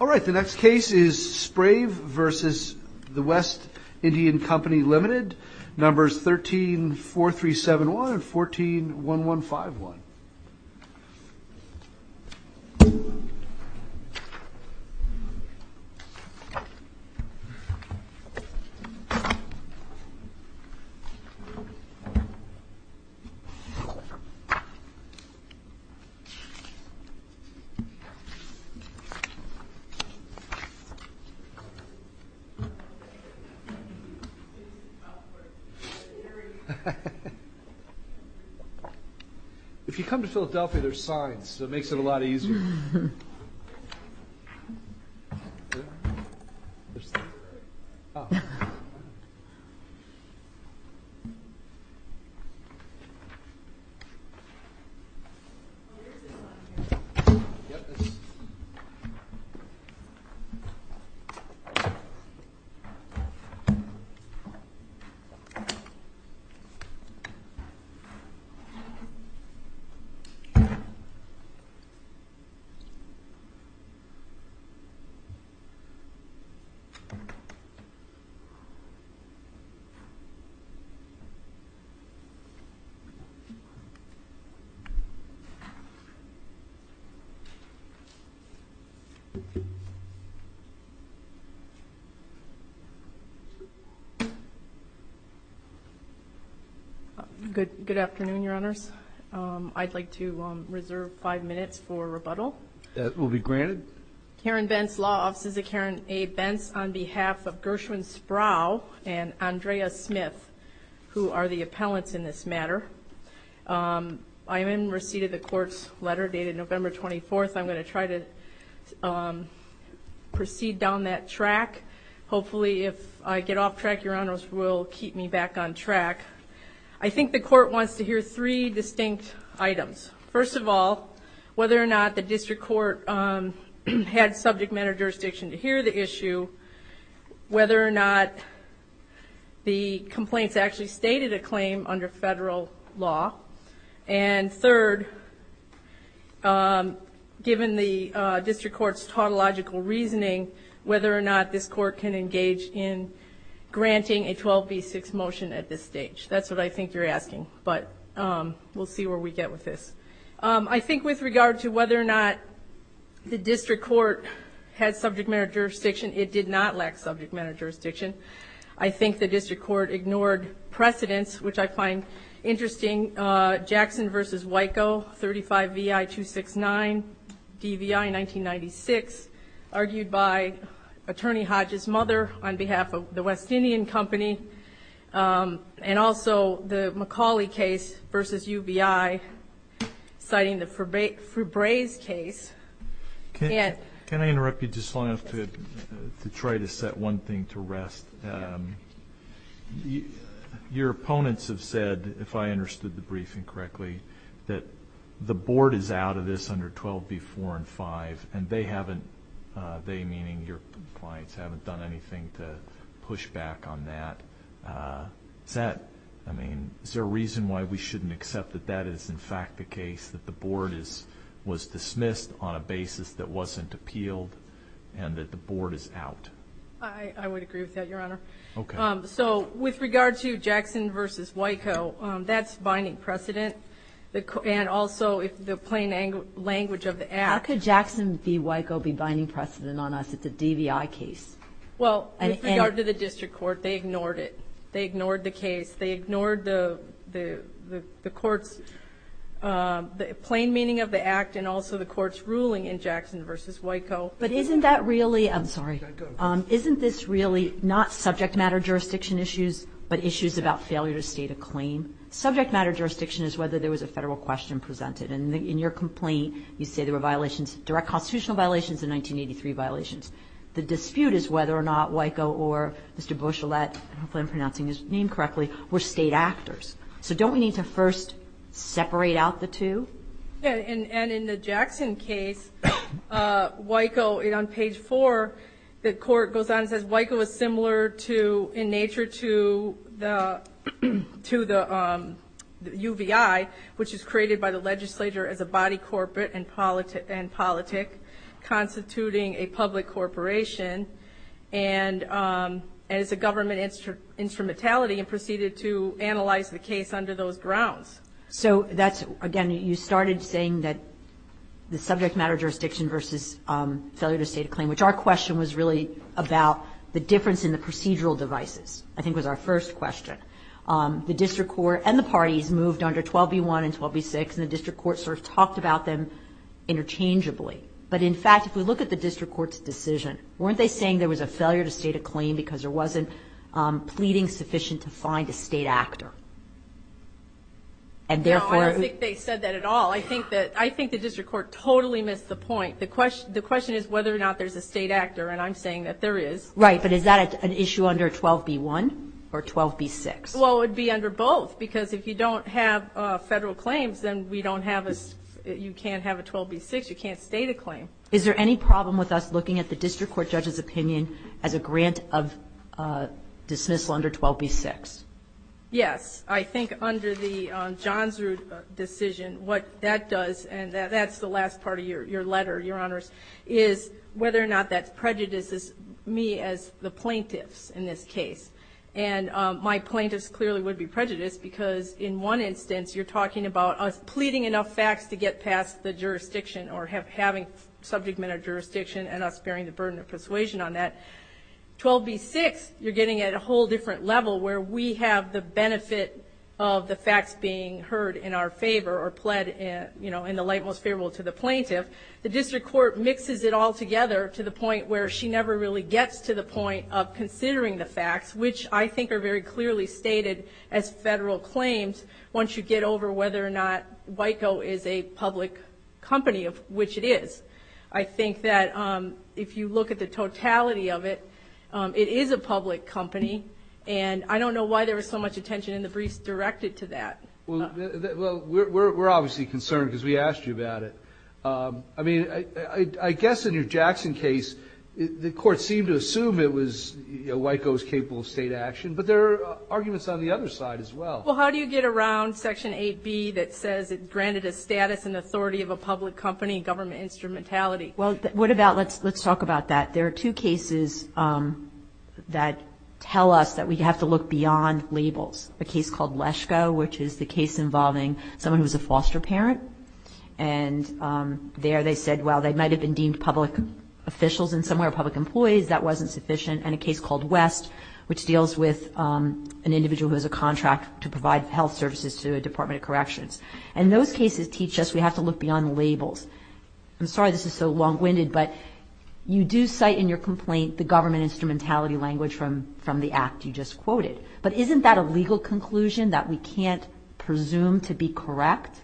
All right, the next case is Sprauvev.WestIndianCoLtd numbers 13-4371 and 14-1151 If you come to Philadelphia, there are signs, so it makes it a lot easier. If you come to Philadelphia, there are signs, so it makes it a lot easier. Good afternoon, Your Honors. I'd like to reserve five minutes for rebuttal. That will be granted. Karen Bentz, Law Offices of Karen A. Bentz, on behalf of Gershwin Sprauvev and Andrea Smith, who are the appellants in this matter. I am in receipt of the court's letter dated November 24th. I'm going to try to proceed down that track. Hopefully, if I get off track, Your Honors will keep me back on track. I think the court wants to hear three distinct items. First of all, whether or not the district court had subject matter jurisdiction to hear the issue, whether or not the complaints actually stated a claim under federal law, and third, given the district court's tautological reasoning, whether or not this court can engage in granting a 12b6 motion at this stage. That's what I think you're asking, but we'll see where we get with this. I think with regard to whether or not the district court had subject matter jurisdiction, it did not lack subject matter jurisdiction. I think the district court ignored precedents, which I find interesting. Jackson v. Wico, 35 VI 269, DVI 1996, argued by Attorney Hodges' mother on behalf of the West Indian Company, and also the McCauley case v. UBI, citing the Febreze case. Can I interrupt you just long enough to try to set one thing to rest? Your opponents have said, if I understood the briefing correctly, that the board is out of this under 12b4 and 5, and they, meaning your clients, haven't done anything to push back on that. Is there a reason why we shouldn't accept that that is in fact the case, that the board was dismissed on a basis that wasn't appealed and that the board is out? I would agree with that, Your Honor. With regard to Jackson v. Wico, that's binding precedent, and also the plain language of the act. How could Jackson v. Wico be binding precedent on us? It's a DVI case. With regard to the district court, they ignored it. They ignored the case. They ignored the plain meaning of the act and also the court's ruling in Jackson v. Wico. Isn't this really not subject matter jurisdiction issues, but issues about failure to state a claim? Subject matter jurisdiction is whether there was a federal question presented. And in your complaint, you say there were direct constitutional violations and 1983 violations. The dispute is whether or not Wico or Mr. Beauchelet, hopefully I'm pronouncing his name correctly, were state actors. So don't we need to first separate out the two? And in the Jackson case, Wico, on page 4, the court goes on and says Wico is similar in nature to the UVI, which is created by the legislature as a body corporate and politic, constituting a public corporation, and is a government instrumentality and proceeded to analyze the case under those grounds. So that's, again, you started saying that the subject matter jurisdiction versus failure to state a claim, which our question was really about the difference in the procedural devices, I think was our first question. The district court and the parties moved under 12b-1 and 12b-6, and the district court sort of talked about them interchangeably. But, in fact, if we look at the district court's decision, weren't they saying there was a failure to state a claim because there wasn't pleading sufficient to find a state actor? And, therefore, No, I don't think they said that at all. I think the district court totally missed the point. The question is whether or not there's a state actor, and I'm saying that there is. Right, but is that an issue under 12b-1 or 12b-6? Well, it would be under both, because if you don't have federal claims, then we don't have a, you can't have a 12b-6, you can't state a claim. Is there any problem with us looking at the district court judge's opinion as a grant of dismissal under 12b-6? Yes. I think under the Johnsrud decision, what that does, and that's the last part of your letter, Your Honors, is whether or not that prejudices me as the plaintiffs in this case. And my plaintiffs clearly would be prejudiced because, in one instance, you're talking about us pleading enough facts to get past the jurisdiction or having subject matter jurisdiction and us bearing the burden of persuasion on that. 12b-6, you're getting at a whole different level where we have the benefit of the facts being heard in our favor or pled in the light most favorable to the plaintiff. The district court mixes it all together to the point where she never really gets to the point of considering the facts, which I think are very clearly stated as federal claims once you get over whether or not WICO is a public company, of which it is. I think that if you look at the totality of it, it is a public company, and I don't know why there was so much attention in the briefs directed to that. Well, we're obviously concerned because we asked you about it. I mean, I guess in your Jackson case, the court seemed to assume it was WICO's capable of state action, but there are arguments on the other side as well. Well, how do you get around Section 8b that says it granted a status and authority of a public company, government instrumentality? Well, what about let's talk about that. There are two cases that tell us that we have to look beyond labels, a case called Leshko, which is the case involving someone who was a foster parent, and there they said, well, they might have been deemed public officials in some way or public employees. That wasn't sufficient. And a case called West, which deals with an individual who has a contract to provide health services to a Department of Corrections. And those cases teach us we have to look beyond labels. I'm sorry this is so long-winded, but you do cite in your complaint the government instrumentality language from the act you just quoted. But isn't that a legal conclusion that we can't presume to be correct?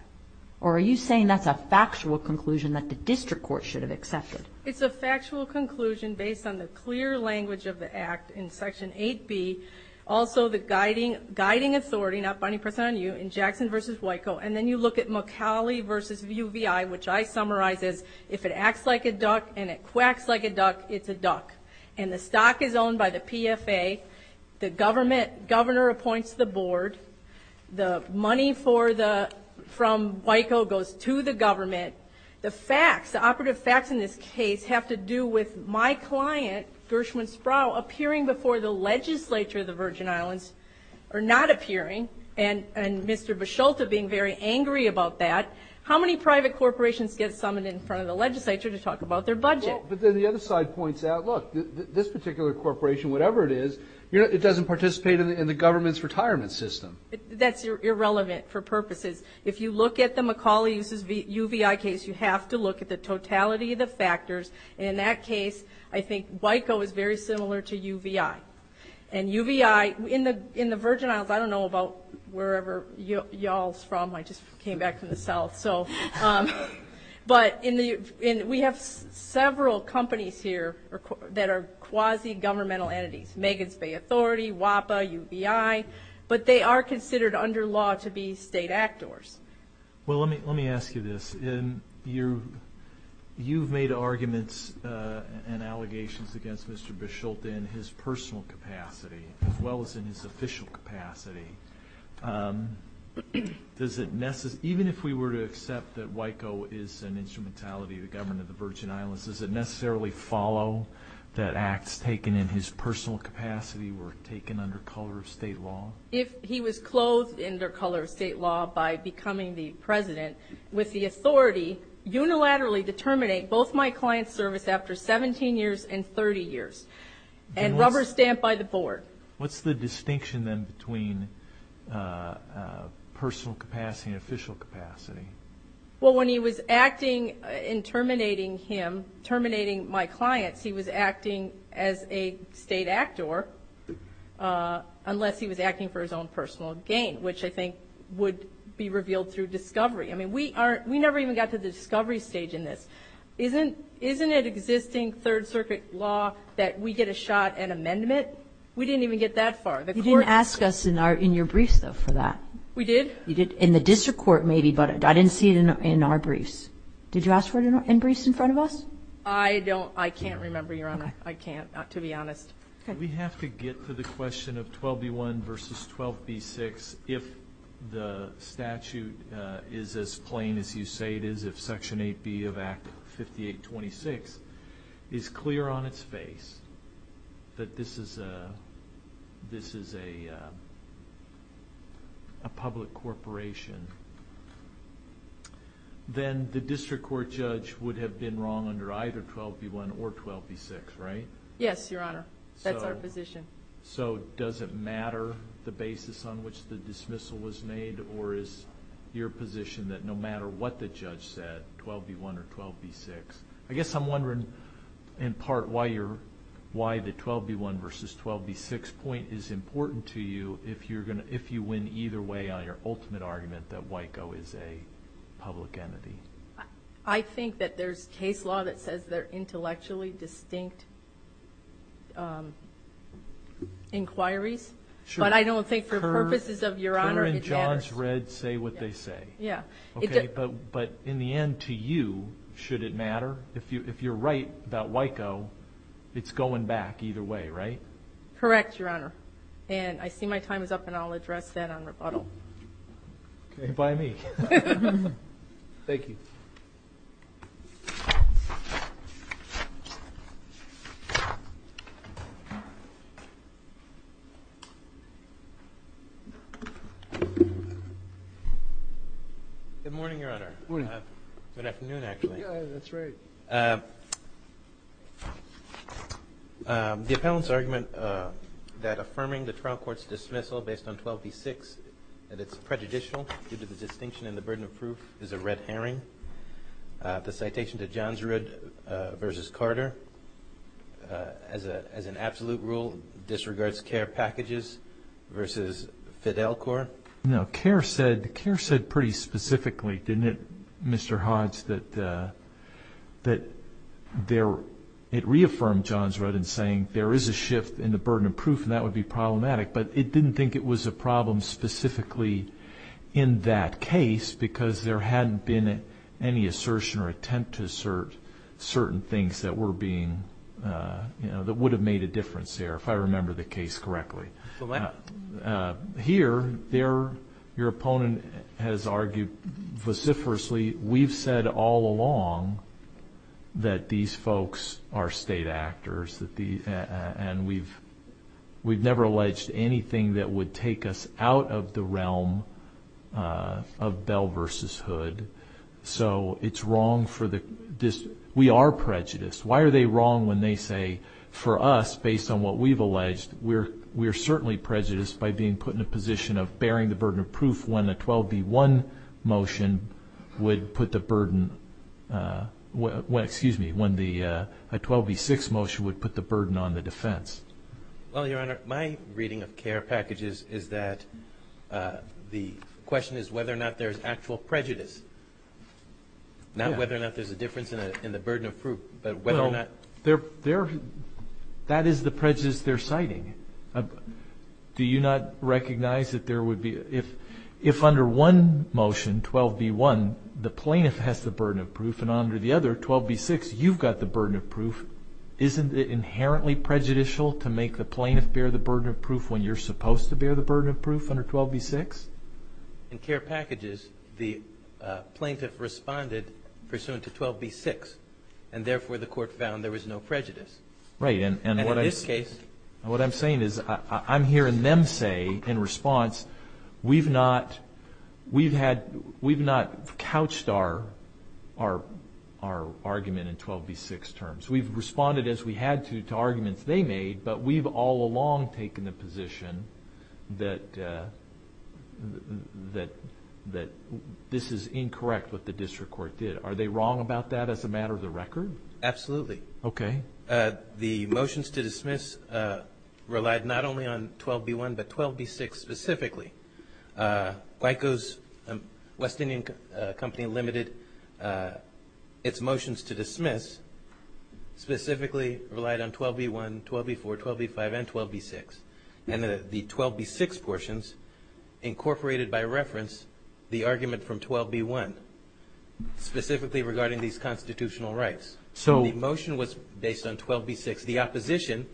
Or are you saying that's a factual conclusion that the district court should have accepted? It's a factual conclusion based on the clear language of the act in Section 8b, also the guiding authority, not binding person on you, in Jackson v. WICO. And then you look at McCauley v. UVI, which I summarize as, if it acts like a duck and it quacks like a duck, it's a duck. And the stock is owned by the PFA. The governor appoints the board. The money from WICO goes to the government. The facts, the operative facts in this case, have to do with my client, Gershwin Sproul, appearing before the legislature of the Virgin Islands, or not appearing, and Mr. Bisholta being very angry about that. How many private corporations get summoned in front of the legislature to talk about their budget? But then the other side points out, look, this particular corporation, whatever it is, it doesn't participate in the government's retirement system. That's irrelevant for purposes. If you look at the McCauley v. UVI case, you have to look at the totality of the factors. In that case, I think WICO is very similar to UVI. And UVI, in the Virgin Isles, I don't know about wherever y'all's from. I just came back from the South. But we have several companies here that are quasi-governmental entities, Megan's Bay Authority, WAPA, UVI, but they are considered under law to be state actors. Well, let me ask you this. You've made arguments and allegations against Mr. Bisholta in his personal capacity, as well as in his official capacity. Even if we were to accept that WICO is an instrumentality of the government of the Virgin Islands, does it necessarily follow that acts taken in his personal capacity were taken under color of state law? If he was clothed under color of state law by becoming the president with the authority unilaterally to terminate both my client's service after 17 years and 30 years and rubber stamp by the board. What's the distinction then between personal capacity and official capacity? Well, when he was acting in terminating him, terminating my clients, he was acting as a state actor unless he was acting for his own personal gain, which I think would be revealed through discovery. I mean, we never even got to the discovery stage in this. Isn't it existing Third Circuit law that we get a shot at amendment? We didn't even get that far. You didn't ask us in your briefs, though, for that. We did? You did. In the district court, maybe, but I didn't see it in our briefs. Did you ask for it in briefs in front of us? I don't. I can't remember, Your Honor. Okay. I can't, to be honest. Okay. We have to get to the question of 12b1 v. 12b6 if the statute is as plain as you say it is, if Section 8B of Act 5826 is clear on its face that this is a public corporation, then the district court judge would have been wrong under either 12b1 or 12b6, right? Yes, Your Honor. That's our position. So does it matter the basis on which the dismissal was made, or is your position that no matter what the judge said, 12b1 or 12b6? I guess I'm wondering in part why the 12b1 v. 12b6 point is important to you if you win either way on your ultimate argument that WICO is a public entity. I think that there's case law that says they're intellectually distinct inquiries, but I don't think for purposes of, Your Honor, it matters. Kerr and Johns, Redd say what they say. Yeah. Okay. But in the end, to you, should it matter? If you're right about WICO, it's going back either way, right? Correct, Your Honor. And I see my time is up, and I'll address that on rebuttal. Okay. By me. Thank you. Good morning, Your Honor. Good morning. Good afternoon, actually. Yeah, that's right. The appellant's argument that affirming the trial court's dismissal based on 12b6 that it's prejudicial due to the distinction and the burden of proof is a red herring. The citation to Johns, Redd versus Carter, as an absolute rule, disregards Kerr packages versus Fidel Court. No, Kerr said pretty specifically, didn't it, Mr. Hodge, that it reaffirmed Johns, Redd in saying there is a shift in the burden of proof and that would be problematic, but it didn't think it was a problem specifically in that case because there hadn't been any assertion or attempt to assert certain things that would have made a difference there, if I remember the case correctly. Here, your opponent has argued vociferously, we've said all along that these folks are state actors and we've never alleged anything that would take us out of the realm of Bell versus Hood. So it's wrong for the, we are prejudiced. Why are they wrong when they say for us, based on what we've alleged, we're certainly prejudiced by being put in a position of bearing the burden of proof when a 12b-1 motion would put the burden, excuse me, when a 12b-6 motion would put the burden on the defense? Well, your Honor, my reading of Kerr packages is that the question is whether or not there's actual prejudice. Not whether or not there's a difference in the burden of proof, but whether or not. That is the prejudice they're citing. Do you not recognize that there would be, if under one motion, 12b-1, the plaintiff has the burden of proof and under the other, 12b-6, you've got the burden of proof, isn't it inherently prejudicial to make the plaintiff bear the burden of proof when you're supposed to bear the burden of proof under 12b-6? In Kerr packages, the plaintiff responded pursuant to 12b-6, and therefore the court found there was no prejudice. Right, and what I'm saying is I'm hearing them say in response, we've not couched our argument in 12b-6 terms. We've responded as we had to to arguments they made, but we've all along taken the position that this is incorrect what the district court did. Are they wrong about that as a matter of the record? Absolutely. Okay. The motions to dismiss relied not only on 12b-1, but 12b-6 specifically. Guico's West Indian Company limited its motions to dismiss specifically relied on 12b-1, 12b-4, 12b-5, and 12b-6, and the 12b-6 portions incorporated by reference the argument from 12b-1, specifically regarding these constitutional rights. So the motion was based on 12b-6. The opposition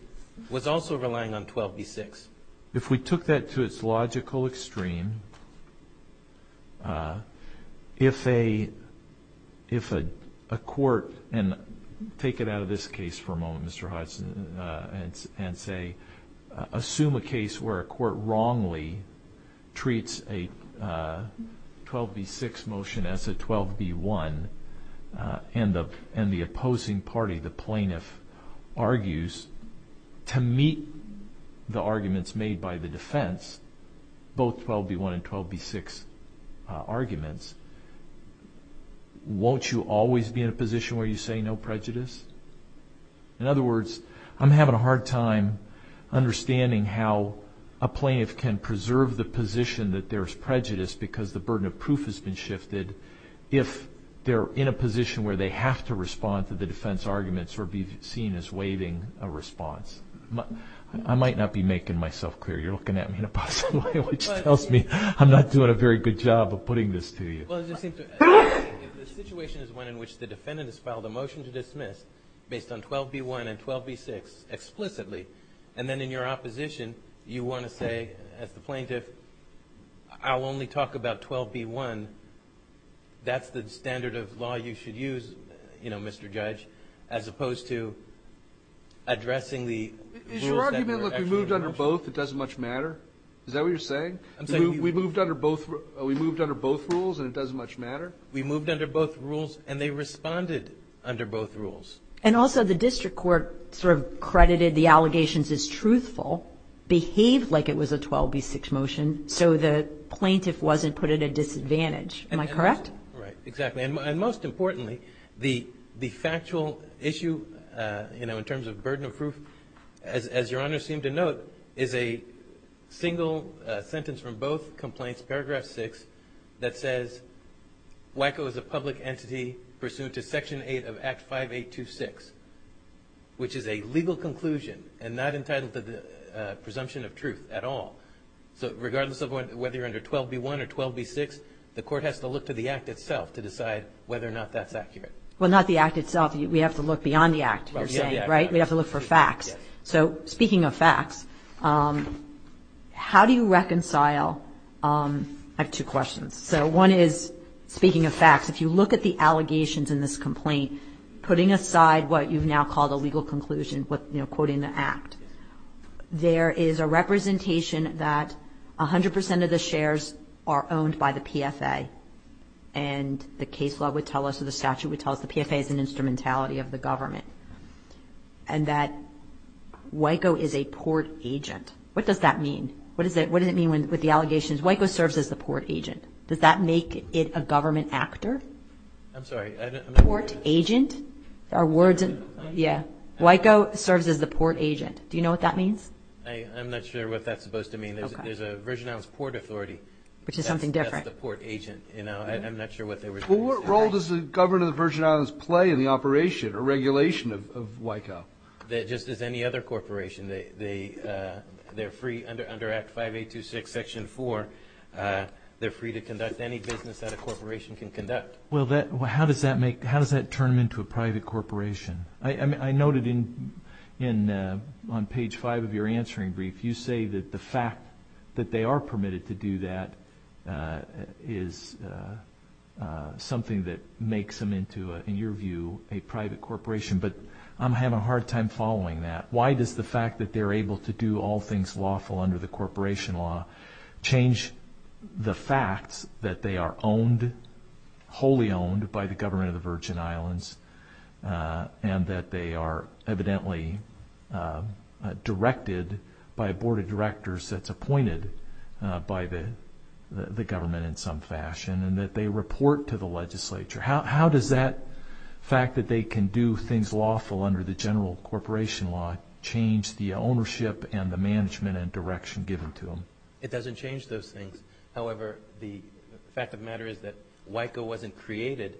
was also relying on 12b-6. If we took that to its logical extreme, if a court, and take it out of this case for a moment, Mr. Hudson, and say assume a case where a court wrongly treats a 12b-6 motion as a 12b-1, and the opposing party, the plaintiff, argues to meet the arguments made by the defense, both 12b-1 and 12b-6 arguments, won't you always be in a position where you say no prejudice? In other words, I'm having a hard time understanding how a plaintiff can preserve the position that there's prejudice because the burden of proof has been shifted if they're in a position where they have to respond to the defense arguments or be seen as waiving a response. I might not be making myself clear. You're looking at me in a positive way, which tells me I'm not doing a very good job of putting this to you. The situation is one in which the defendant has filed a motion to dismiss based on 12b-1 and 12b-6 explicitly, and then in your opposition you want to say, as the plaintiff, I'll only talk about 12b-1, that's the standard of law you should use, Mr. Judge, as opposed to addressing the rules that were actually in the motion. Is your argument, look, we moved under both, it doesn't much matter? Is that what you're saying? We moved under both rules and it doesn't much matter? We moved under both rules and they responded under both rules. And also the district court sort of credited the allegations as truthful, behaved like it was a 12b-6 motion, so the plaintiff wasn't put at a disadvantage. Am I correct? Right, exactly. And most importantly, the factual issue, you know, in terms of burden of proof, as your Honor seemed to note, is a single sentence from both complaints, paragraph 6, that says WICO is a public entity pursuant to Section 8 of Act 5826, which is a legal conclusion and not entitled to the presumption of truth at all. So regardless of whether you're under 12b-1 or 12b-6, the court has to look to the Act itself to decide whether or not that's accurate. Well, not the Act itself. We have to look beyond the Act, you're saying, right? We have to look for facts. So speaking of facts, how do you reconcile... I have two questions. So one is, speaking of facts, if you look at the allegations in this complaint, putting aside what you've now called a legal conclusion, you know, quoting the Act, there is a representation that 100% of the shares are owned by the PFA, and the case law would tell us or the statute would tell us the PFA is an instrumentality of the government, and that WICO is a port agent. What does that mean? What does it mean with the allegations? WICO serves as the port agent. Does that make it a government actor? I'm sorry, I don't... Port agent? Yeah. WICO serves as the port agent. Do you know what that means? I'm not sure what that's supposed to mean. There's a Virgin Islands Port Authority. Which is something different. Well, what role does the government of the Virgin Islands play in the operation or regulation of WICO? Just as any other corporation. They're free under Act 5826, Section 4. They're free to conduct any business that a corporation can conduct. Well, how does that make... How does that turn them into a private corporation? I noted on page 5 of your answering brief, you say that the fact that they are permitted to do that is something that makes them into, in your view, a private corporation. But I'm having a hard time following that. Why does the fact that they're able to do all things lawful under the corporation law change the fact that they are owned, wholly owned, by the government of the Virgin Islands and that they are evidently directed by a board of directors that's appointed by the government in some fashion and that they report to the legislature? How does that fact that they can do things lawful under the general corporation law change the ownership and the management and direction given to them? It doesn't change those things. However, the fact of the matter is that WICO wasn't created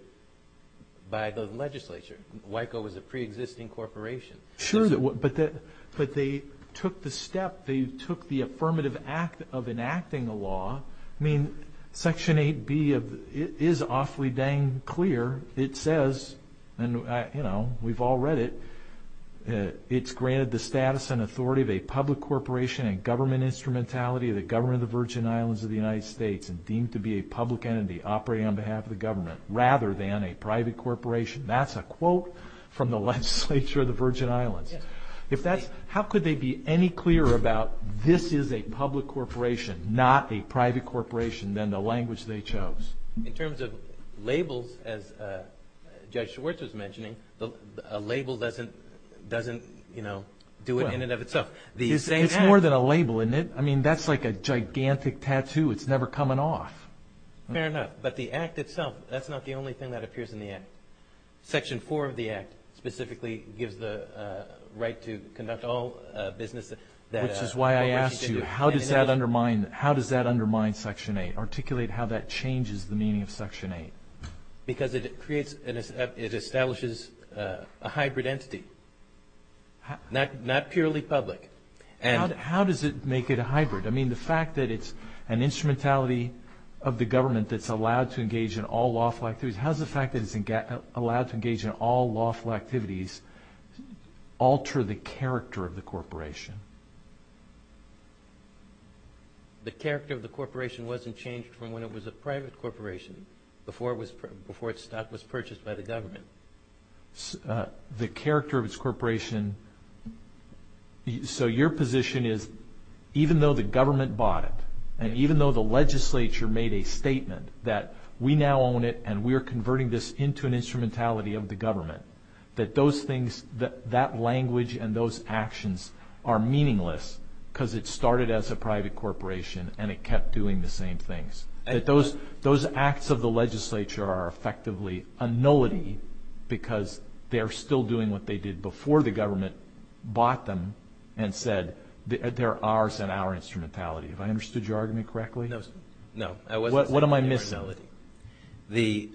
by the legislature. WICO was a pre-existing corporation. Sure, but they took the step, they took the affirmative act of enacting a law. I mean, section 8B is awfully dang clear. It says, and we've all read it, it's granted the status and authority of a public corporation and government instrumentality of the government of the Virgin Islands of the United States and deemed to be a public entity operating on behalf of the government rather than a private corporation. That's a quote from the legislature of the Virgin Islands. How could they be any clearer about this is a public corporation, not a private corporation than the language they chose? In terms of labels, as Judge Schwartz was mentioning, a label doesn't do it in and of itself. It's more than a label, isn't it? I mean, that's like a gigantic tattoo. It's never coming off. Fair enough, but the act itself, that's not the only thing that appears in the act. Section 4 of the act specifically gives the right to conduct all business. Which is why I asked you, how does that undermine section 8? Articulate how that changes the meaning of section 8. Because it establishes a hybrid entity, not purely public. How does it make it a hybrid? I mean, the fact that it's an instrumentality of the government that's allowed to engage in all lawful activities. How does the fact that it's allowed to engage in all lawful activities alter the character of the corporation? The character of the corporation wasn't changed from when it was a private corporation before its stock was purchased by the government. The character of its corporation, so your position is even though the government bought it, and even though the legislature made a statement that we now own it and we're converting this into an instrumentality of the government, that language and those actions are meaningless because it started as a private corporation and it kept doing the same things. Those acts of the legislature are effectively a nullity because they're still doing what they did before the government bought them and said they're ours and our instrumentality. Did I understand you correctly? No, I wasn't. What am I missing? The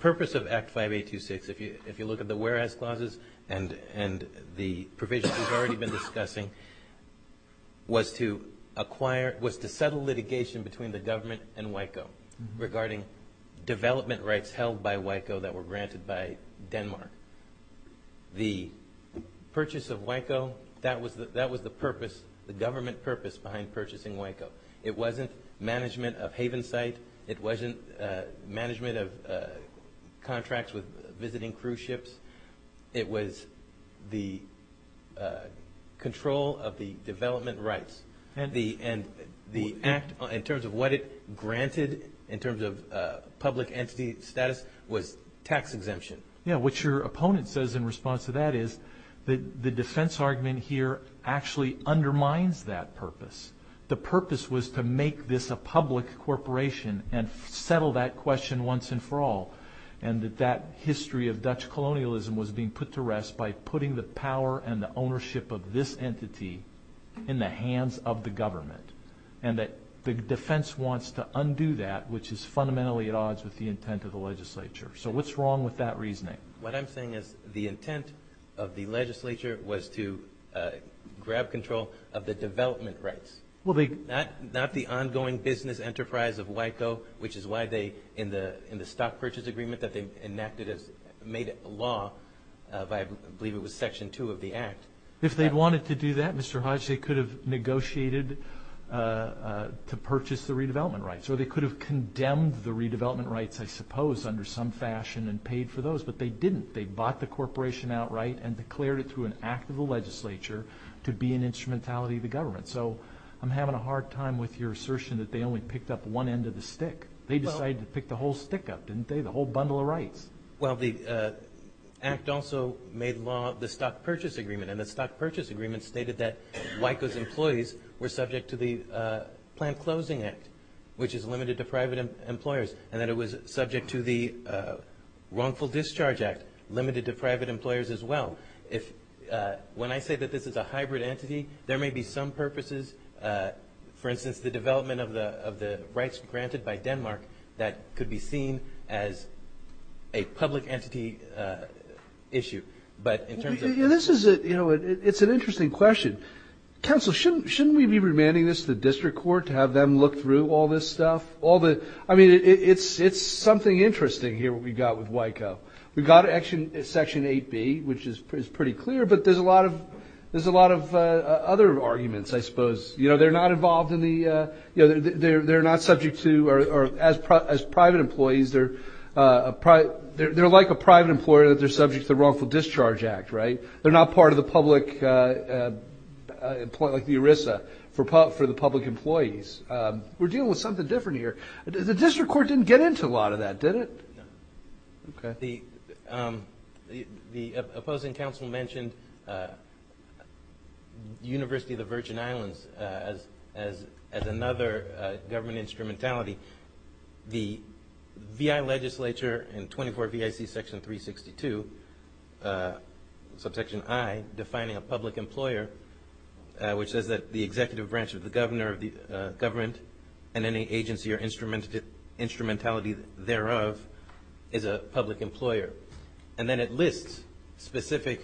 purpose of Act 5826, if you look at the whereas clauses and the provisions we've already been discussing, was to settle litigation between the government and WICO regarding development rights held by WICO that were granted by Denmark. The purchase of WICO, that was the purpose, the government purpose behind purchasing WICO. It wasn't management of haven site. It wasn't management of contracts with visiting cruise ships. It was the control of the development rights and the act in terms of what it granted in terms of public entity status was tax exemption. What your opponent says in response to that is the defense argument here actually undermines that purpose. The purpose was to make this a public corporation and settle that question once and for all. That history of Dutch colonialism was being put to rest by putting the power and the ownership of this entity in the hands of the government. The defense wants to undo that, which is fundamentally at odds with the intent of the legislature. What's wrong with that reasoning? What I'm saying is the intent of the legislature was to grab control of the development rights. Not the ongoing business enterprise of WICO, which is why in the stock purchase agreement that they enacted as made law, I believe it was section two of the act. If they wanted to do that, Mr. Hodge, they could have negotiated to purchase the redevelopment rights or they could have condemned the redevelopment rights, I suppose, in some fashion and paid for those. But they didn't. They bought the corporation outright and declared it through an act of the legislature to be an instrumentality of the government. I'm having a hard time with your assertion that they only picked up one end of the stick. They decided to pick the whole stick up, didn't they? The whole bundle of rights. The act also made law the stock purchase agreement. The stock purchase agreement stated that WICO's employees were subject to the planned closing act, which is limited to private employers. And that it was subject to the wrongful discharge act, limited to private employers as well. When I say that this is a hybrid entity, there may be some purposes, for instance, the development of the rights granted by Denmark that could be seen as a public entity issue. But in terms of... It's an interesting question. Counsel, shouldn't we be remanding this to the district court to have them look through all this stuff? I mean, it's something interesting here what we've got with WICO. We've got Section 8B, which is pretty clear, but there's a lot of other arguments, I suppose. They're not involved in the... They're not subject to... As private employees, they're like a private employer that they're subject to the wrongful discharge act, right? They're not part of the public... Like the ERISA, for the public employees. We're dealing with something different here. The district court didn't get into a lot of that, did it? No. Okay. The opposing counsel mentioned University of the Virgin Islands as another government instrumentality. The VI legislature in 24 VIC Section 362, Subsection I, defining a public employer, which says that the executive branch of the governor and any agency or instrumentality thereof is a public employer. And then it lists specific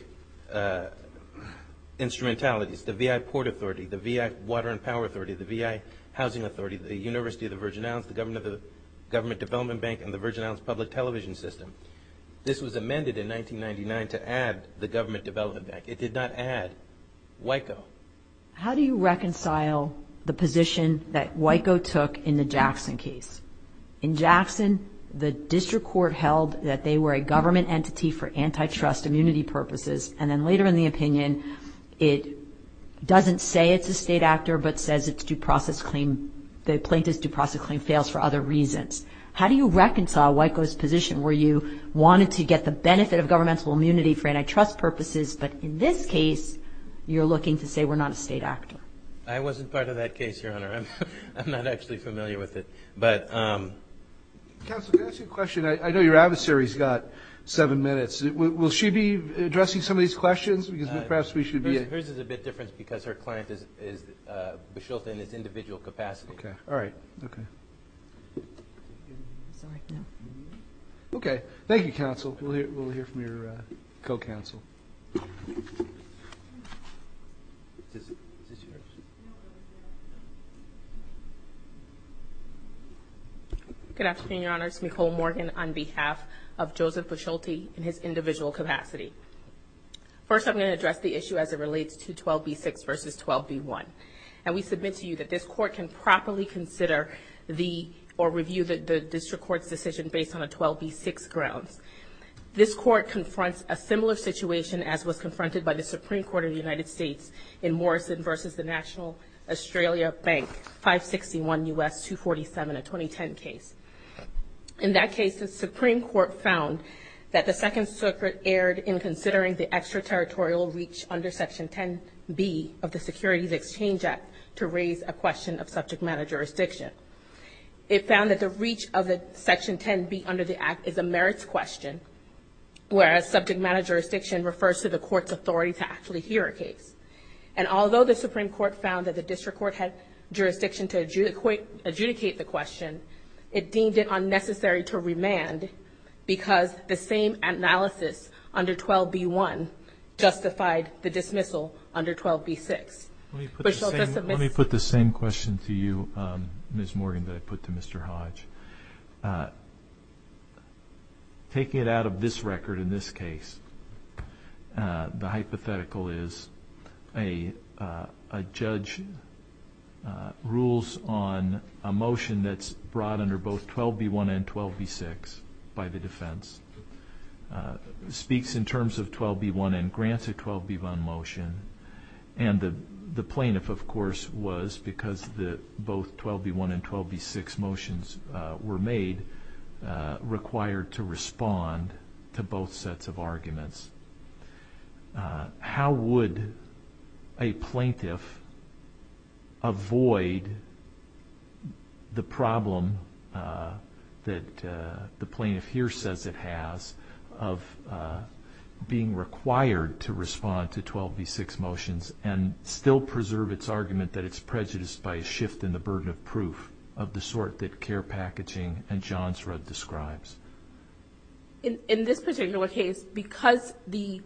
instrumentalities. The VI Port Authority, the VI Water and Power Authority, the VI Housing Authority, the University of the Virgin Islands, the Government Development Bank, and the Virgin Islands Public Television System. This was amended in 1999 to add the Government Development Bank. It did not add WICO. How do you reconcile the position that WICO took in the Jackson case? In Jackson, the district court held that they were a government entity for antitrust immunity purposes. And then later in the opinion, it doesn't say it's a state actor, but says the plaintiff's due process claim fails for other reasons. How do you reconcile WICO's position where you wanted to get the benefit of governmental immunity for antitrust purposes, but in this case, you say we're not a state actor? I wasn't part of that case, Your Honor. I'm not actually familiar with it. But, um... Counsel, can I ask you a question? I know your adversary's got seven minutes. Will she be addressing some of these questions? Because perhaps we should be... Hers is a bit different because her client is, uh, Bashilta in his individual capacity. Okay. All right. Okay. Okay. Thank you, Counsel. We'll hear from your co-counsel. Is this yours? Good afternoon, Your Honors. Nicole Morgan on behalf of Joseph Bashilta in his individual capacity. First, I'm going to address the issue as it relates to 12b-6 versus 12b-1. And we submit to you that this Court can properly consider the, or review the District Court's decision based on the 12b-6 grounds. This Court confronts a similar situation as was confronted by the Supreme Court in the United States in Morrison versus the National Australia Bank, 561 U.S. 247, a 2010 case. In that case, the Supreme Court found that the Second Circuit erred in considering the extraterritorial reach under Section 10b of the Securities Exchange Act to raise a question of subject matter jurisdiction. It found that the reach of the Section 10b under the Act is a merits question, whereas subject matter jurisdiction refers to the Court's authority to actually hear a case. And although the Supreme Court found that the District Court had jurisdiction to adjudicate the question, it deemed it unnecessary to remand because the same analysis under 12b-1 justified the dismissal under 12b-6. Let me put the same question to you, Ms. Morgan, that I put to Mr. Hodge. Taking it out of this record in this case, the hypothetical is a judge rules on a motion that's brought under both 12b-1 and 12b-6 by the defense, speaks in terms of 12b-1 and grants a 12b-1 motion, and the plaintiff, of course, was, because both 12b-1 and 12b-6 motions were made, required to respond to both sets of arguments. How would a plaintiff avoid the problem that the plaintiff here says it has of being required to respond to 12b-6 motions and still preserve its argument that it's prejudiced by a shift in the burden of proof of the sort that CARE Packaging and Johnsrud describes? In this particular case, because the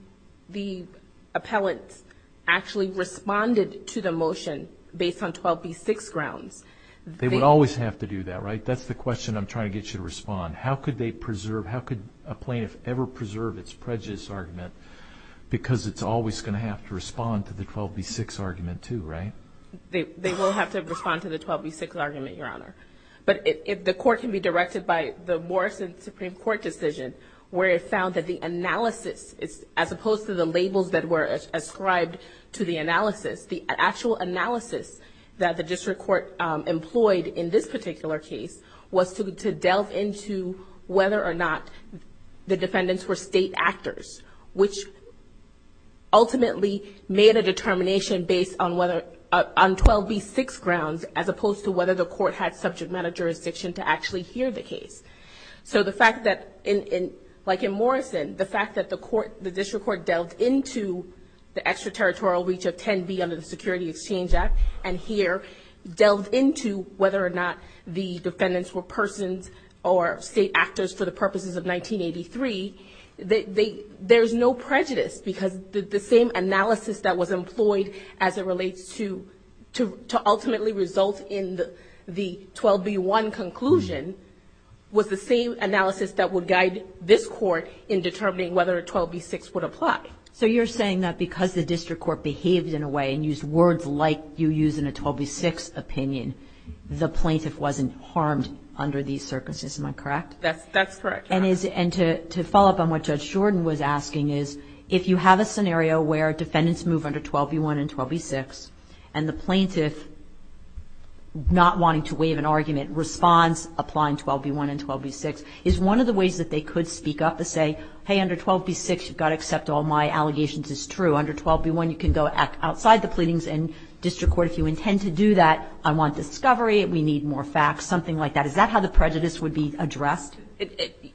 appellant actually responded to the motion based on 12b-6 grounds, they would always have to do that, right? That's the question I'm trying to get you to respond. How could they preserve, how could a plaintiff ever preserve its prejudice argument because it's always going to have to respond to the 12b-6 argument too, right? They will have to respond to the 12b-6 argument, Your Honor. But the court can be directed by the Morrison Supreme Court decision where it found that the analysis, as opposed to the labels that were ascribed to the analysis, the actual analysis that the district court employed in this particular case was to delve into whether or not the defendants were state actors, which ultimately made a determination based on whether, on 12b-6 grounds as opposed to whether the court had subject matter jurisdiction to actually hear the case. So the fact that, like in Morrison, the fact that the district court delved into the extraterritorial reach of 10b under the Security Exchange Act and here delved into whether or not the defendants were persons or state actors for the purposes of 1983, there's no prejudice because the same analysis that was employed as it relates to ultimately result in the 12b-1 conclusion was the same analysis that would guide this court in determining whether 12b-6 would apply. So you're saying that because the district court behaved in a way and used words like you use in a 12b-6 opinion, the plaintiff wasn't harmed under these circumstances, am I correct? That's correct. And to follow up on what Judge Jordan was asking is, if you have a scenario where defendants move under 12b-1 and 12b-6 and the plaintiff, not wanting to waive an argument, responds applying 12b-1 and 12b-6, is one of the ways that they could speak up and say, hey, under 12b-6 you've got to accept all my allegations as true. Under 12b-1 you can go outside the pleadings and district court, if you intend to do that, I want discovery, we need more facts, something like that. Is that how the prejudice would be addressed?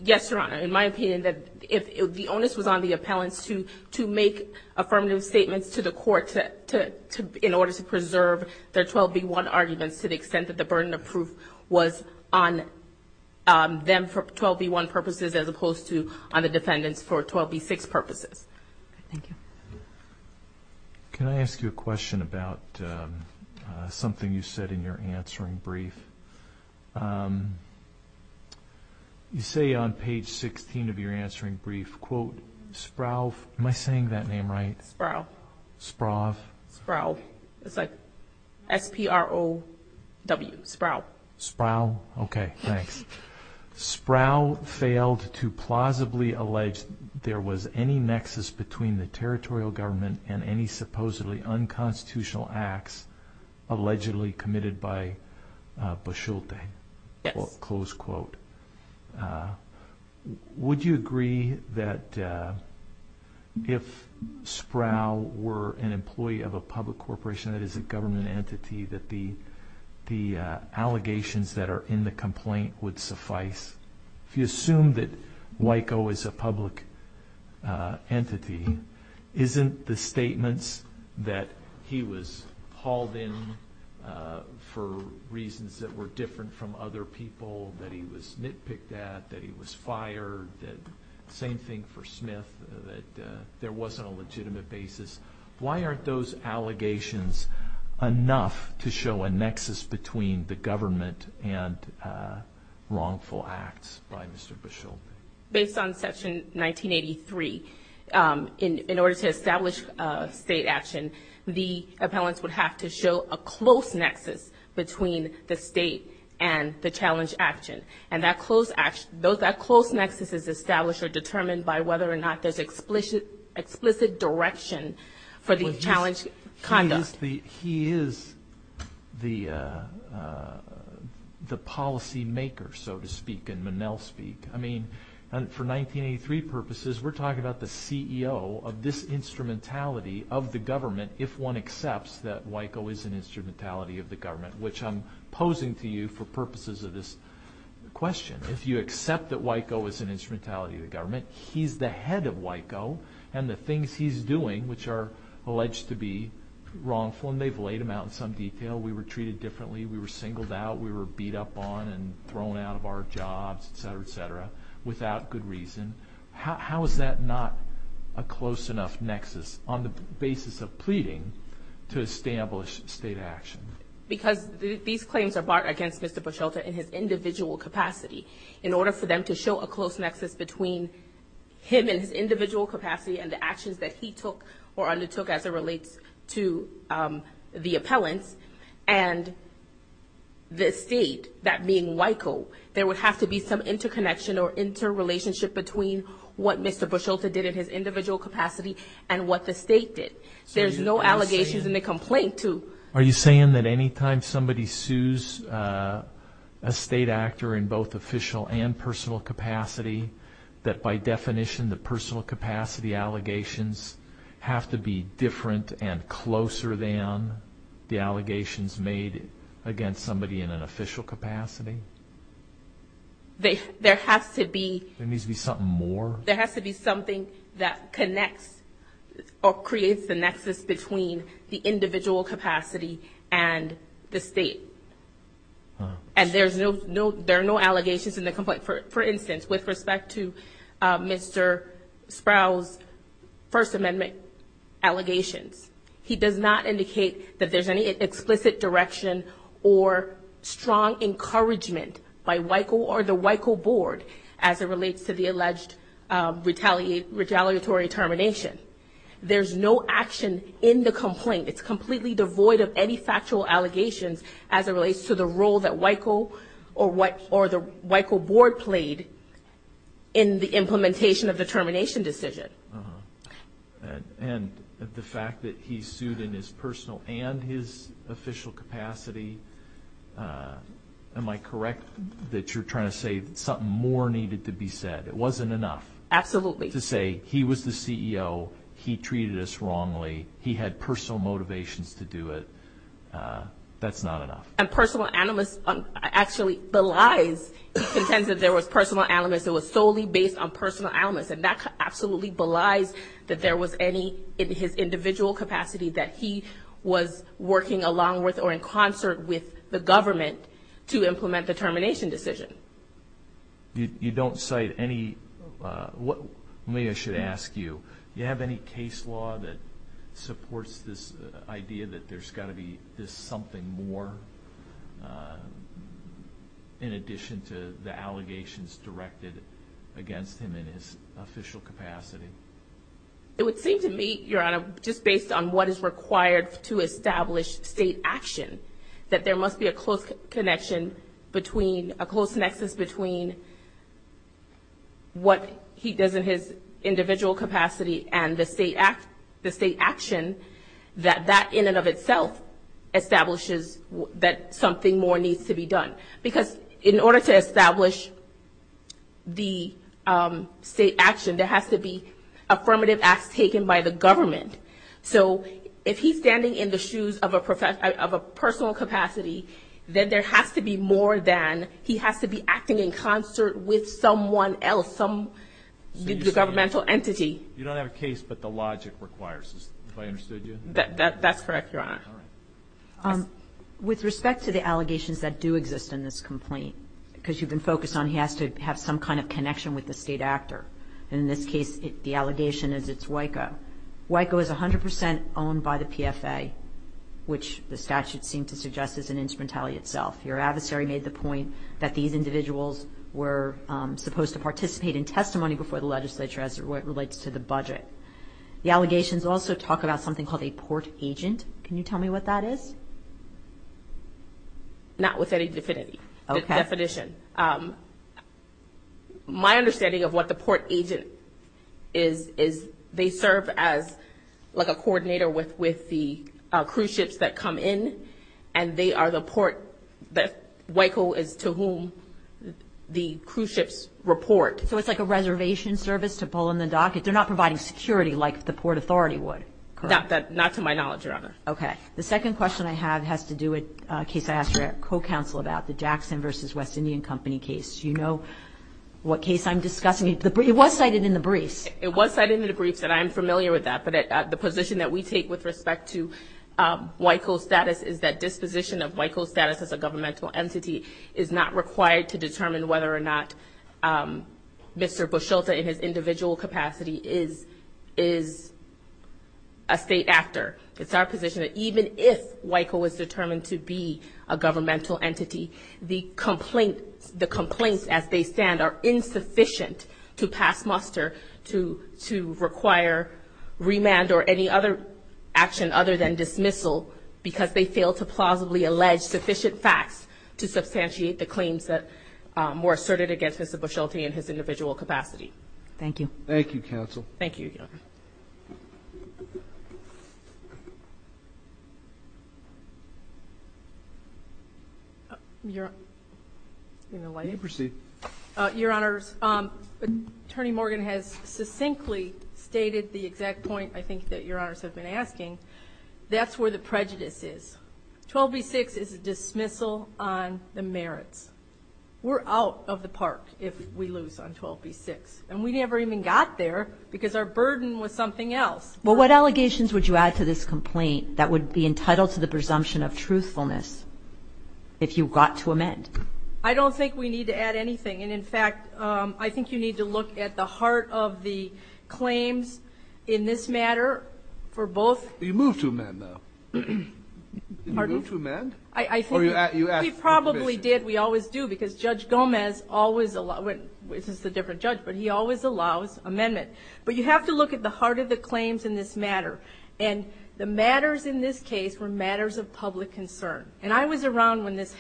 Yes, Your Honor. In my opinion, if the onus was on the appellants to make affirmative statements to the court in order to preserve their 12b-1 arguments to the extent that the burden of proof was on them for 12b-1 purposes as opposed to on the defendants for 12b-6 purposes. Thank you. Can I ask you a question about something you said in your answering brief? You say on page 16 of your answering brief, quote, Sprov, am I saying that name right? Sprov. Sprov. Sprov. It's like S-P-R-O-V. Sprov. Sprov. Okay. Thanks. Sprov failed to plausibly allege there was any nexus between the territorial government and any supposedly unconstitutional acts allegedly committed by Basulte. Yes. Close quote. Would you agree that if Sprov were an employee of a public corporation that is a government entity that the allegations that are in the complaint would suffice? If you assume that WICO is a public entity, isn't the statements that he was hauled in for reasons that were different from other people, that he was nitpicked at, that he was fired, same thing for Smith, that there wasn't a legitimate basis, why aren't those allegations enough to show a nexus between the government and wrongful acts by Mr. Basulte? Based on section 1983, in order to establish state action, the appellants would have to show a close nexus between the state and the challenged action. And that close nexus is established or determined by whether or not there's explicit direction for the challenged conduct. He is the policy maker, so to speak, in Minnell speak. I mean, for 1983 purposes, we're talking about the CEO of this instrumentality of the government if one accepts that WICO is an instrumentality of the government, which I'm posing to you for purposes of this question. If you accept that WICO is an instrumentality of the government, he's the head of WICO and the things he's doing, which are alleged to be wrongful, and then they've laid them out in some detail. We were treated differently. We were singled out. We were beat up on and thrown out of our jobs, et cetera, et cetera, without good reason. How is that not a close enough nexus on the basis of pleading to establish state action? Because these claims are barred against Mr. Buschelta in his individual capacity in order for them to show a close nexus between him and his individual capacity and the actions that he took or undertook as it relates to the appellants and the state, that being WICO, there would have to be some interconnection or interrelationship between what Mr. Buschelta did in his individual capacity and what the state did. There's no allegations in the complaint to... Are you saying that any time somebody sues a state actor in both official and personal capacity, that by definition the personal capacity allegations have to be different and closer than the allegations made against somebody in an official capacity? There has to be... There needs to be something more? There has to be something that connects or creates the nexus between the individual capacity and the state. And there are no allegations in the complaint. For instance, with respect to Mr. Sprouse first amendment allegations, he does not indicate that there's any explicit direction or strong encouragement by WICO or the WICO board as it relates to the alleged retaliatory termination. in the complaint. It's completely devoid of any factual allegations as it relates to the role that WICO or the WICO board played in the implementation of the termination decision. And the fact that he sued in his personal and his official capacity, am I correct that you're trying to say that something more needed to be said? It wasn't enough. Absolutely. To say he was the CEO, he treated us wrongly, he had personal motivations to do it. That's not enough. And personal elements, it was solely based on personal elements and that absolutely belies that there was any in his individual capacity that he was working along with or in concert with the government to implement the termination decision. You don't cite any what may I should ask you, do you believe that there must be a close connection between a close nexus between what he does in his capacity and the state action that that in and of itself establishes that something more needs to be done. Because in order to establish the state action there has to be affirmative acts taken by the government. So if he's standing in the shoes of a personal capacity then there has to be more than he has to be acting in concert with someone else, some governmental entity. You don't have a case but you do case. So that's what the requires. If I understood you? That's correct, your honor. With respect to the allegations that do exist in this complaint because you've been focused on he has to have some kind of connection with the state actor. In this case it's WICO. It's 100% owned by the PFA. Your adversary made the point that these individuals were supposed to participate in testimony before the legislature as it relates to the case. So my understanding of what the port agent is is they serve as like a coordinator with the cruise ships that come in and they are the port that WICO is to whom the cruise ships report. So it's like a reservation service to pull in the docket. They're not the They're the port agent. The case I'm discussing was cited in the briefs. I'm familiar with that. The position we take with respect to WICO status is it's not required to determine whether or not Mr. Buschelta in his individual capacity is a state actor. It's our position that even if WICO is determined to be a governmental entity, the complaints as they stand are insufficient to pass muster to require remand or any other action other than dismissal because they fail to allege sufficient facts to substantiate the claims asserted Mr. Buschelta in his individual capacity. Thank you. Thank you, counsel. Thank you, Your Honor. Attorney Morgan has succinctly stated the exact point I think that Your Honor has been asking. That's where the prejudice is. 12B6 is a dismissal on the merits. We're out of the park if we lose on 12B6. And we never even got there because our burden was something else. Well, what allegations would you add to this complaint that would be entitled to the presumption of truthfulness if you got to amend? I don't think we need to add anything. And in fact, I think you need to look at the heart of the claims in this matter for both You moved to amend or you asked for permission? We probably did, we always do because Judge Gomez always allows amendment. But you have to look at the heart of the claims in this matter. And the matters in this case were matters of public concern. And I was around when this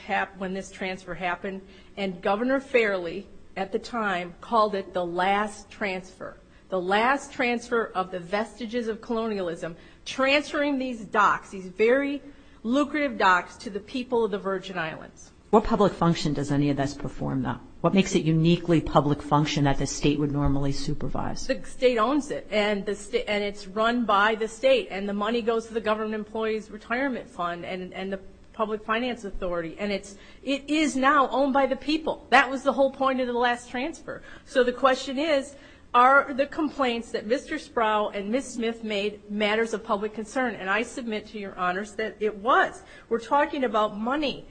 transfer happened and Governor Fairley at the time called it the last transfer. The last transfer of the vestiges of colonialism transferring these docks, these very lucrative docks to the people of the Virgin Islands. What public function does any of this perform now? What makes it uniquely public function that the state would normally supervise? The state owns it and it's run by the state and the money goes to the government employee's retirement fund and the public finance authority. And it is now owned by the people. That was the whole point of the last transfer. So the question is, are the complaints that Mr. Sproul and Ms. Smith made matters of public concern? And I submit to your honors that it was. We're talking about money.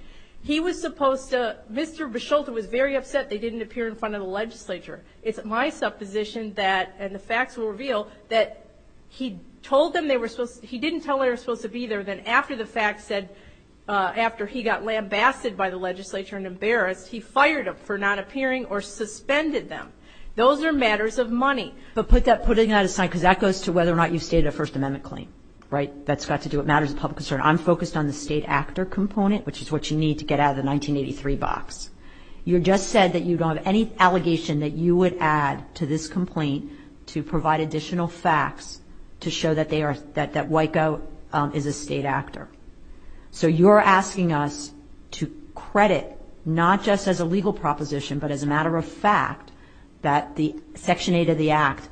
He was supposed to, Mr. Bisholta was very upset they didn't appear in front of the legislature. It's my supposition that and the facts will reveal that he told them they were supposed to be there and then after the facts said after he got lambasted by the legislature and embarrassed he fired them for not appearing or suspended them. Those are matters of money. But put that aside because that goes to whether or not you stated a first amendment claim. I'm focused on the state actor component which is what you need to get out of the 1983 box. You are asking us to credit not just as a legal proposition but as a matter of fact that the section 8 of the act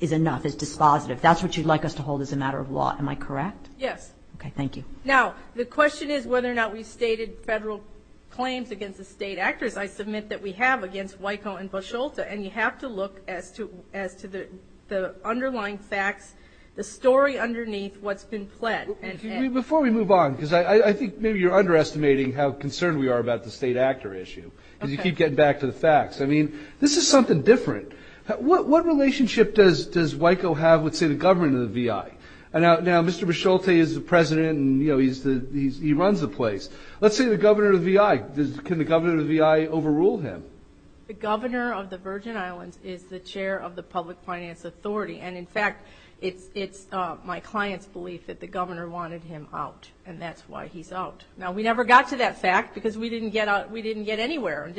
is enough. That's what you want us to hold as a matter of law. Am I correct? The question is whether or not we stated federal act. I think maybe you are underestimating how concerned we are about the state actor issue. This is something different. What relationship does WICO have with the governor of the V.I.? Let's say the governor of the V.I. can the governor overrule him? The governor of the Virgin Islands is the chair of the public finance authority. My client's belief is that the governor wanted him out. We never got to that fact because we didn't get anywhere.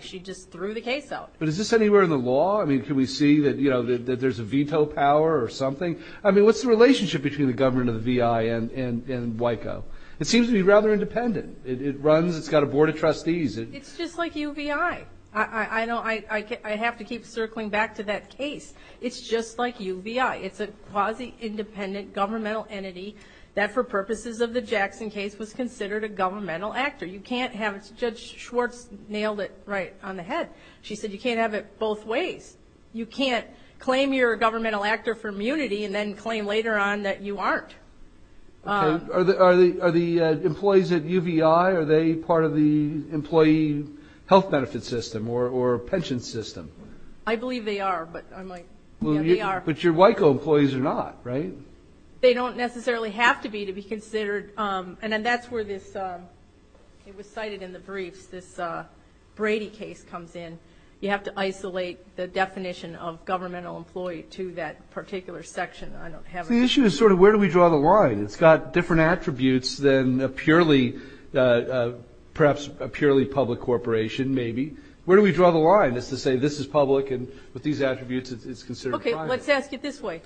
She just threw the case out. Is this anywhere in the law? Can we see that there's a veto power or something? What's the relationship between the governor of the V.I. and WICO? It seems to be rather independent. It's got a board of trustees. It's just like U. V.I. I have to keep circling back to that case. It's just like U. V.I. It's a quasi-independent governmental entity that for purposes of the Jackson case was considered a governmental actor. Judge Schwartz nailed it right on the head. She said you can't both ways. You can't claim you're a governmental actor for immunity and then claim later on that you aren't. Are the employees at U. V.I. a part of your pension system? I believe they are. But your WICO employees are not, right? They don't necessarily have to be to be considered. That's where this Brady case comes in. You have to isolate the definition of governmental employee to that particular section. The issue is where do we draw the line? It's got different attributes than a purely perhaps a purely public corporation, maybe. Where do we draw the line? Is to say this is public and with these attributes it's considered private. Okay. Let's ask it this way.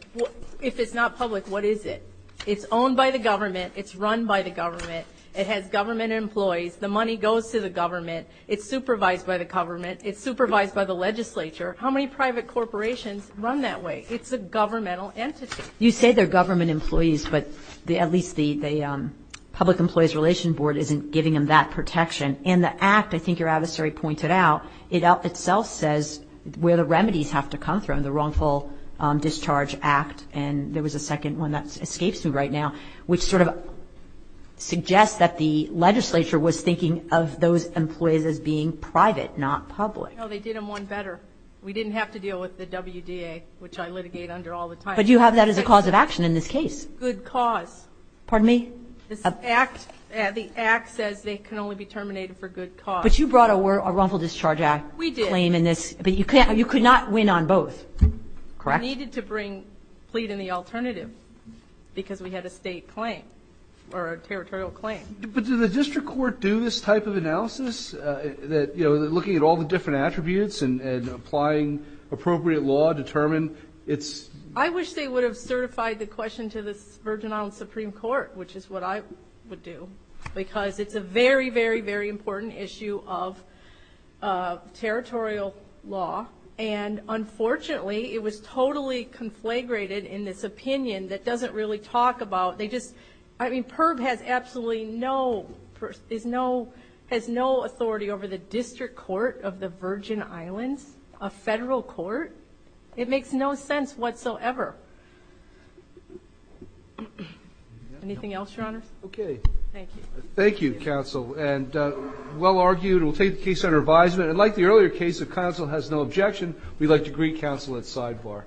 If it's not public, what is it? It's owned by the government. It's run by the government. It has government employees. The money goes to the government. It's supervised by the government. It's supervised by the legislature. How many private corporations run that way? It's a governmental entity. You say they're government employees, but at least the public employees relation board isn't giving them that protection. And the act, I think your adversary pointed out, itself says where the remedies have to come from, the wrongful discharge act, and there was a second one that escapes me right now, which suggests that the legislature was thinking of those employees as being private, not public. They did not have to deal with the WDA, which I litigate under all the time. Good cause. The act says they can only be terminated for good cause. We did. We needed to bring plead in the alternative because we had a state claim or territorial claim. But do the district court do this type of analysis, looking at all the different attributes and applying appropriate law to determine its... I wish they would have certified the question to the Supreme Court, which is what I would do, because it's a very, very, very important issue of law. And, unfortunately, it was totally conflagrated in this opinion that doesn't really talk about... I mean, PERB has absolutely no authority over the district court of the Virgin Islands, a federal court. It makes no sense whatsoever. Anything else, Your Honors? Okay. Thank you, Counsel. And well argued. We'll take the case under advisement. And like the earlier case, if Counsel has no objection, we'd like to greet Counsel at sidebar.